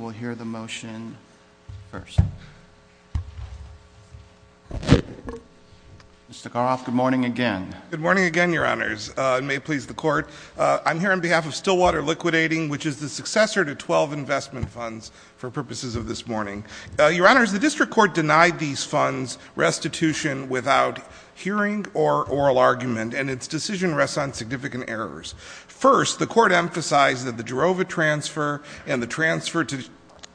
We'll hear the motion first. Mr. Karloff, good morning again. Good morning again, your honors. May it please the court. I'm here on behalf of Stillwater Liquidating, which is the successor to 12 investment funds for purposes of this morning. Your honors, the district court denied these funds restitution without hearing or oral argument and its decision rests on significant errors. First, the court emphasized that the Jirova transfer and the transfer to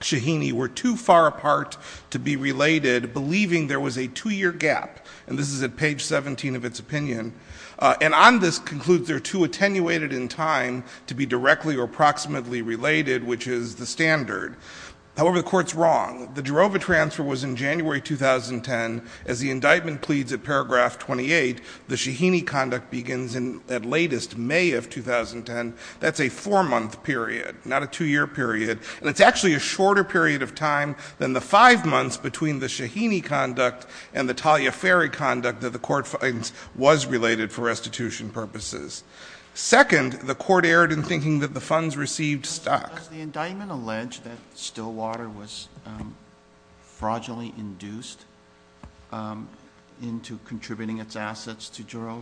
Shaheeni were too far apart to be related, believing there was a two-year gap. And this is at page 17 of its opinion. And on this concludes they're too attenuated in time to be directly or approximately related, which is the standard. However, the court's wrong. The Jirova transfer was in January 2010. As the indictment pleads at paragraph 28, the Shaheeni conduct begins in, at latest, May of 2010. That's a four-month period, not a two-year period. And it's actually a shorter period of time than the five months between the Shaheeni conduct and the Taliaferri conduct that the court finds was related for restitution purposes. Second, the court erred in thinking that the funds received stuck. Does the indictment allege that Stillwater was fraudulently induced into contributing its assets to Jirova?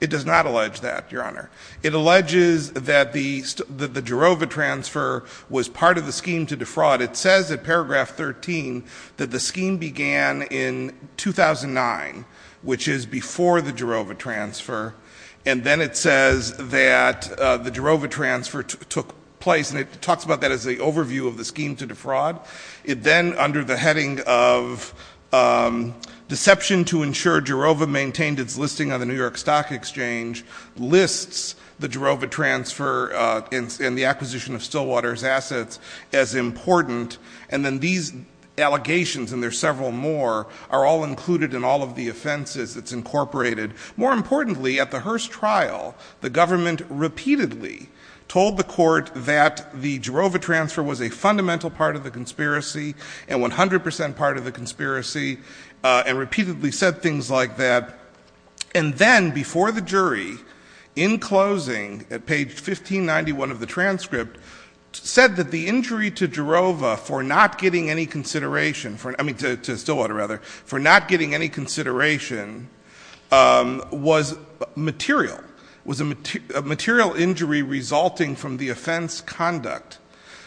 It does not allege that, Your Honour. It alleges that the Jirova transfer was part of the scheme to defraud. It says at paragraph 13 that the scheme began in 2009, which is before the Jirova transfer. And then it says that the Jirova transfer took place, and it talks about that as the overview of the scheme to defraud. It then, under the heading of deception to ensure Jirova maintained its listing on the New York Stock Exchange, lists the Jirova transfer and the acquisition of Stillwater's assets as important. And then these allegations, and there's several more, are all included in all of the offences that's incorporated. More importantly, at the Hearst trial, the government repeatedly told the court that the Jirova transfer was a fundamental part of the conspiracy, and 100% part of the conspiracy, and repeatedly said things like that. And then, before the jury, in closing, at page 1591 of the transcript, said that the injury to Jirova for not getting any consideration for, I mean, to Stillwater, rather, for not getting any consideration was material. Was a material injury resulting from the offense conduct.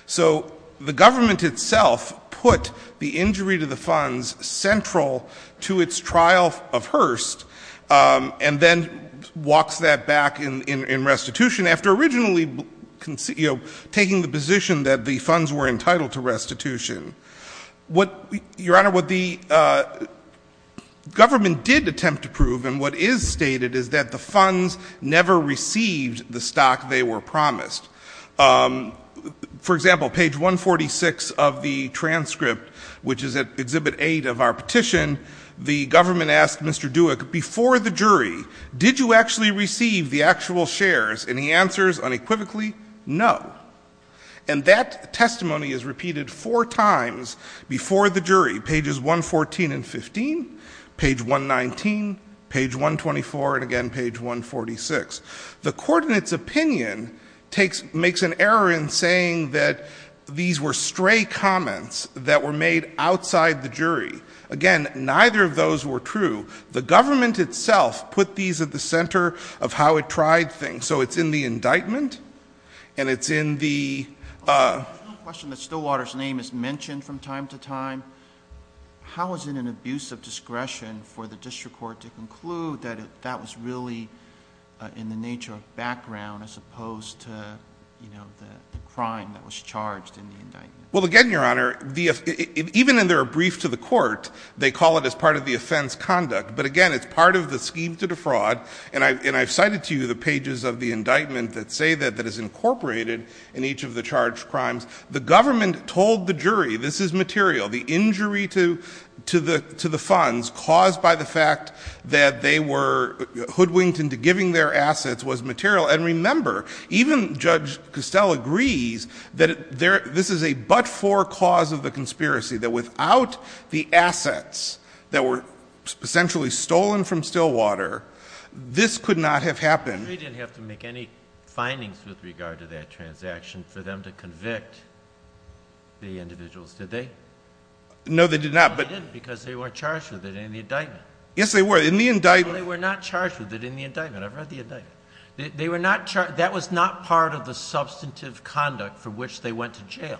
So, the government itself put the injury to the funds central to its trial of Hearst. And then walks that back in restitution after originally taking the position that the funds were entitled to restitution. What, your honor, what the government did attempt to prove, and what is stated, is that the funds never received the stock they were promised. For example, page 146 of the transcript, which is at exhibit eight of our petition, the government asked Mr. Dewek, before the jury, did you actually receive the actual shares? And he answers unequivocally, no. And that testimony is repeated four times before the jury. Pages 114 and 15, page 119, page 124, and again, page 146. The court in its opinion makes an error in saying that these were stray comments that were made outside the jury. Again, neither of those were true. The government itself put these at the center of how it tried things. So it's in the indictment, and it's in the- There's no question that Stillwater's name is mentioned from time to time. How is it an abuse of discretion for the district court to conclude that that was really in the nature of background as opposed to the crime that was charged in the indictment? Well again, your honor, even in their brief to the court, they call it as part of the offense conduct. But again, it's part of the scheme to defraud. And I've cited to you the pages of the indictment that say that it is incorporated in each of the charged crimes, the government told the jury this is material. The injury to the funds caused by the fact that they were hoodwinked into giving their assets was material. And remember, even Judge Costell agrees that this is a but-for cause of the conspiracy. That without the assets that were essentially stolen from Stillwater, this could not have happened. The jury didn't have to make any findings with regard to that transaction for them to convict the individuals, did they? No, they did not, but- No, they didn't, because they weren't charged with it in the indictment. Yes, they were. In the indictment- No, they were not charged with it in the indictment. I've read the indictment. They were not charged, that was not part of the substantive conduct for which they went to jail.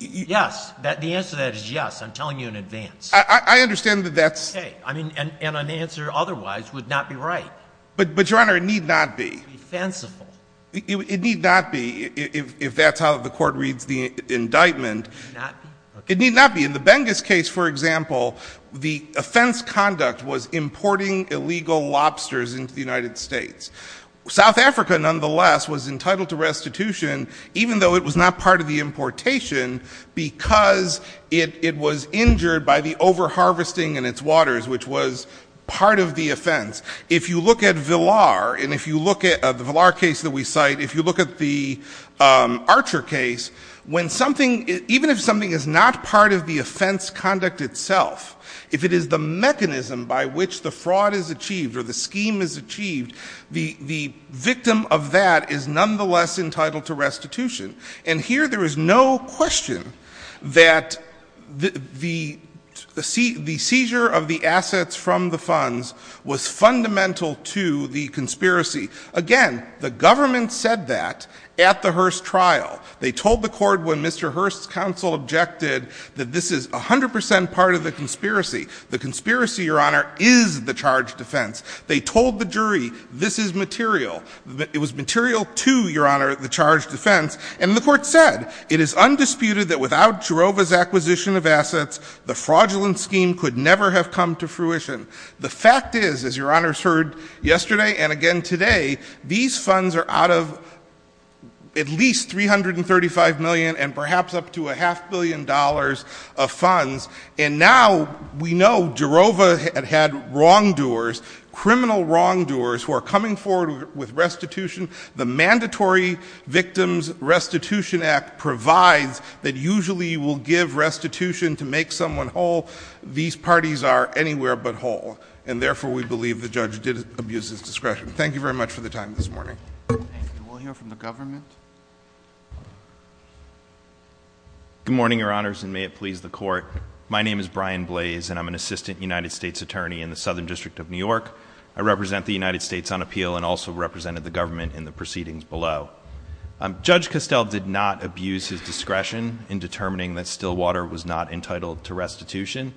Yes, the answer to that is yes, I'm telling you in advance. I understand that that's- Okay, and an answer otherwise would not be right. But, Your Honor, it need not be. Be fanciful. It need not be, if that's how the court reads the indictment. It need not be? It need not be. In the Bengus case, for example, the offense conduct was importing illegal lobsters into the United States. South Africa, nonetheless, was entitled to restitution even though it was not part of the importation because it was injured by the over-harvesting in its waters, which was part of the offense. If you look at Villar, and if you look at the Villar case that we cite, if you look at the Archer case, when something, even if something is not part of the offense conduct itself, if it is the mechanism by which the fraud is achieved or the scheme is achieved, the victim of that is nonetheless entitled to restitution. And here there is no question that the seizure of the assets from the funds was fundamental to the conspiracy. Again, the government said that at the Hearst trial. They told the court when Mr. Hearst's counsel objected that this is 100% part of the conspiracy. The conspiracy, Your Honor, is the charged offense. They told the jury this is material. It was material to, Your Honor, the charged offense. And the court said, it is undisputed that without Jarova's acquisition of assets, the fraudulent scheme could never have come to fruition. The fact is, as Your Honor's heard yesterday and again today, these funds are out of at least $335 million and perhaps up to a half billion dollars of funds. And now we know Jarova had had wrongdoers, criminal wrongdoers who are coming forward with restitution. The Mandatory Victims Restitution Act provides that usually you will give restitution to make someone whole. These parties are anywhere but whole. And therefore, we believe the judge did abuse his discretion. Thank you very much for the time this morning. And we'll hear from the government. Good morning, Your Honors, and may it please the court. My name is Brian Blaze, and I'm an assistant United States attorney in the Southern District of New York. I represent the United States on appeal and also represented the government in the proceedings below. Judge Costell did not abuse his discretion in determining that Stillwater was not entitled to restitution.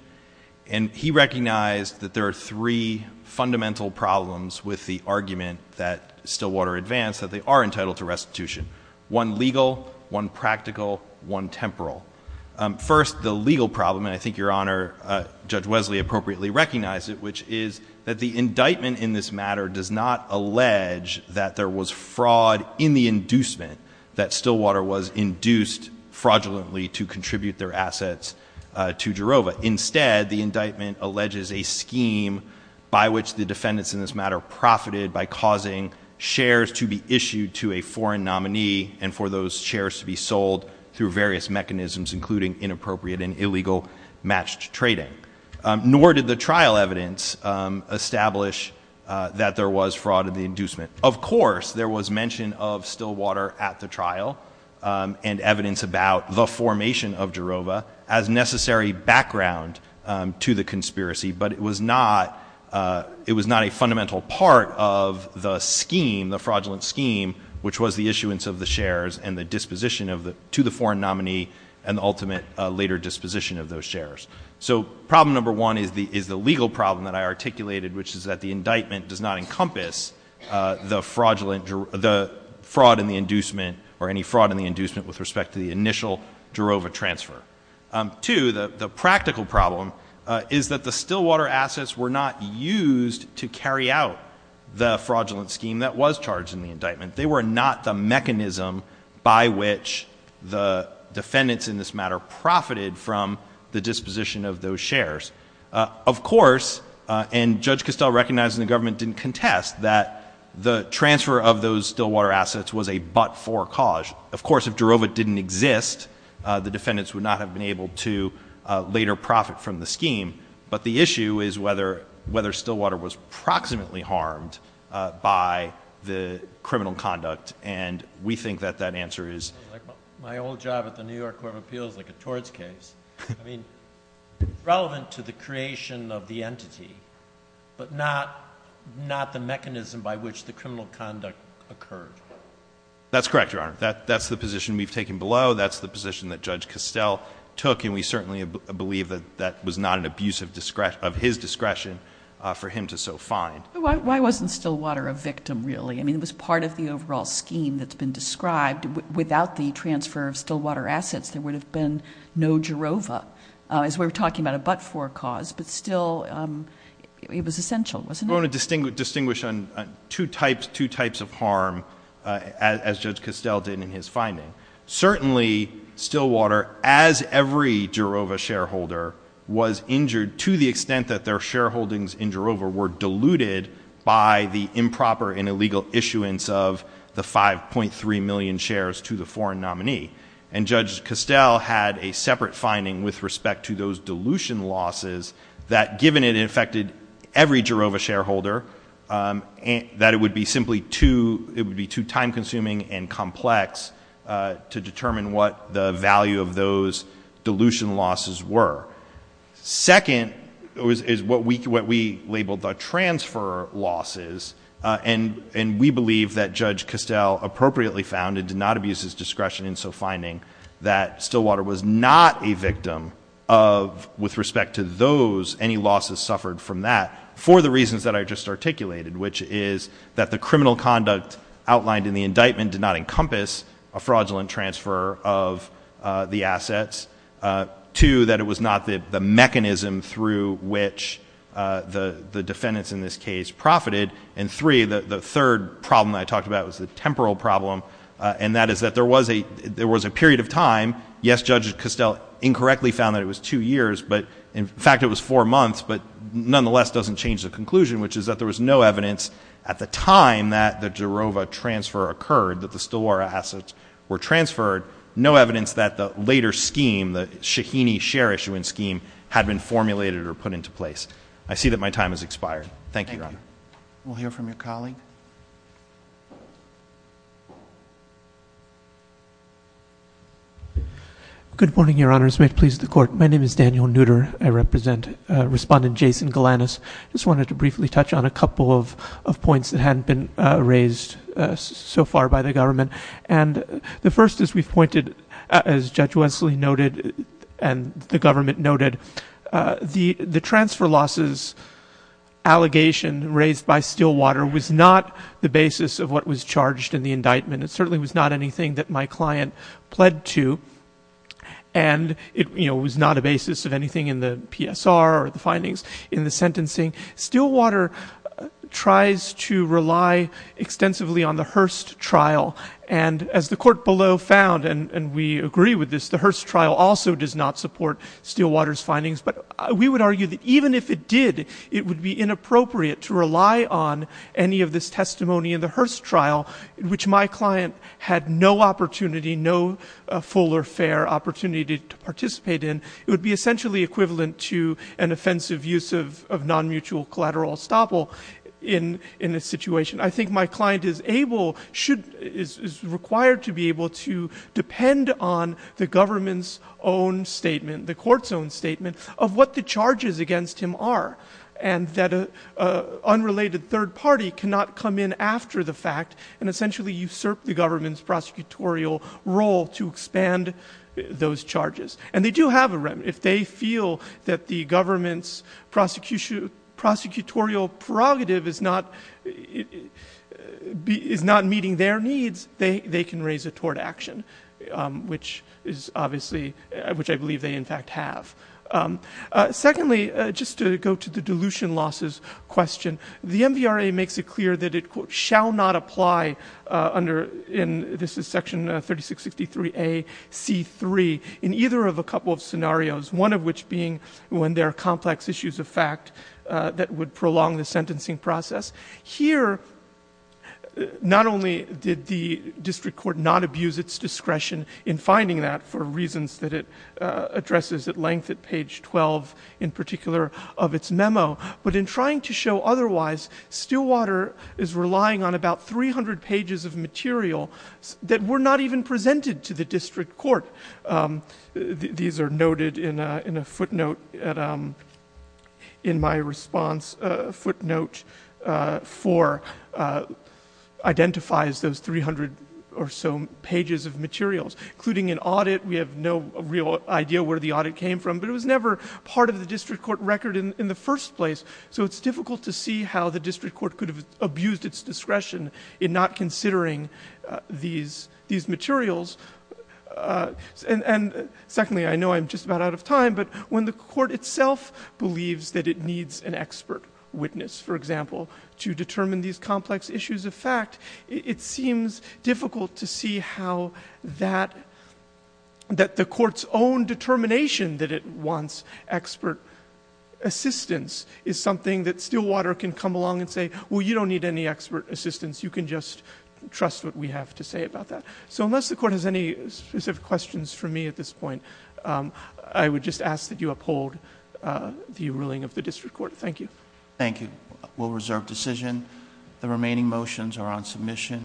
And he recognized that there are three fundamental problems with the argument that Stillwater advanced that they are entitled to restitution, one legal, one practical, one temporal. First, the legal problem, and I think Your Honor, Judge Wesley appropriately recognized it, which is that the indictment in this matter does not allege that there was fraud in the inducement that Stillwater was induced fraudulently to contribute their assets to Jarova. Instead, the indictment alleges a scheme by which the defendants in this matter profited by causing shares to be issued to a foreign nominee and for those shares to be sold through various mechanisms including inappropriate and illegal matched trading. Nor did the trial evidence establish that there was fraud in the inducement. Of course, there was mention of Stillwater at the trial and evidence about the formation of Jarova as necessary background to the conspiracy. But it was not a fundamental part of the scheme, the fraudulent scheme, which was the issuance of the shares and the disposition to the foreign nominee and the ultimate later disposition of those shares. So problem number one is the legal problem that I articulated, which is that the indictment does not encompass the fraud in the inducement or any fraud in the inducement with respect to the initial Jarova transfer. Two, the practical problem is that the Stillwater assets were not used to carry out the fraudulent scheme that was charged in the indictment. They were not the mechanism by which the defendants in this matter profited from the disposition of those shares. Of course, and Judge Costell recognized and the government didn't contest that the transfer of those Stillwater assets was a but-for cause. Of course, if Jarova didn't exist, the defendants would not have been able to later profit from the scheme. But the issue is whether Stillwater was proximately harmed by the criminal conduct. And we think that that answer is- My old job at the New York Court of Appeals, like a torts case. I mean, relevant to the creation of the entity, but not the mechanism by which the criminal conduct occurred. That's correct, Your Honor. That's the position we've taken below. That's the position that Judge Costell took. And we certainly believe that that was not an abuse of his discretion for him to so find. Why wasn't Stillwater a victim, really? I mean, it was part of the overall scheme that's been described. Without the transfer of Stillwater assets, there would have been no Jarova. As we were talking about a but-for cause, but still, it was essential, wasn't it? I want to distinguish on two types of harm, as Judge Costell did in his finding. Certainly, Stillwater, as every Jarova shareholder, was injured to the extent that their shareholdings in Jarova were diluted by the improper and illegal issuance of the 5.3 million shares to the foreign nominee. And Judge Costell had a separate finding with respect to those dilution losses that given it affected every Jarova shareholder, that it would be simply too, it would be too time consuming and complex to determine what the value of those dilution losses were. Second, is what we labeled the transfer losses. And we believe that Judge Costell appropriately found and did not abuse his discretion in so that he didn't impose any losses suffered from that for the reasons that I just articulated. Which is that the criminal conduct outlined in the indictment did not encompass a fraudulent transfer of the assets. Two, that it was not the mechanism through which the defendants in this case profited. And three, the third problem that I talked about was the temporal problem, and that is that there was a period of time. Yes, Judge Costell incorrectly found that it was two years. But in fact, it was four months, but nonetheless doesn't change the conclusion, which is that there was no evidence at the time that the Jarova transfer occurred, that the Stelwara assets were transferred. No evidence that the later scheme, the Shaheeni share issuance scheme, had been formulated or put into place. I see that my time has expired. Thank you, Your Honor. We'll hear from your colleague. Good morning, Your Honors. May it please the court. My name is Daniel Nutter. I represent Respondent Jason Galanis. Just wanted to briefly touch on a couple of points that hadn't been raised so far by the government. And the first is we've pointed, as Judge Wesley noted and the government noted, the transfer losses allegation raised by Stillwater was not the basis of what was charged in the indictment. It certainly was not anything that my client pled to. And it was not a basis of anything in the PSR or the findings in the sentencing. Stillwater tries to rely extensively on the Hearst trial. And as the court below found, and we agree with this, the Hearst trial also does not support Stillwater's findings. But we would argue that even if it did, it would be inappropriate to rely on any of this testimony in the Hearst trial, which my client had no opportunity, no full or fair opportunity to participate in. It would be essentially equivalent to an offensive use of non-mutual collateral estoppel in this situation. I think my client is required to be able to depend on the government's own statement, the court's own statement, of what the charges against him are. And that an unrelated third party cannot come in after the fact and essentially usurp the government's prosecutorial role to expand those charges. And they do have a remedy. If they feel that the government's prosecutorial prerogative is not meeting their needs, they can raise a tort action, which I believe they in fact have. Secondly, just to go to the dilution losses question. The MVRA makes it clear that it quote, shall not apply under, and this is section 3663A, C3, in either of a couple of scenarios. One of which being when there are complex issues of fact that would prolong the sentencing process. Here, not only did the district court not abuse its discretion in finding that for reasons that it addresses at length at page 12, in particular of its memo. But in trying to show otherwise, Stillwater is relying on about 300 pages of material that were not even presented to the district court. These are noted in a footnote in my response, footnote four identifies those 300 or so pages of materials. Including an audit, we have no real idea where the audit came from. But it was never part of the district court record in the first place. So it's difficult to see how the district court could have abused its discretion in not considering these materials. And secondly, I know I'm just about out of time, but when the court itself believes that it needs an expert witness, for example, to determine these complex issues, that the court's own determination that it wants expert assistance is something that Stillwater can come along and say, well, you don't need any expert assistance. You can just trust what we have to say about that. So unless the court has any specific questions for me at this point, I would just ask that you uphold the ruling of the district court. Thank you. Thank you. We'll reserve decision. The remaining motions are on submission.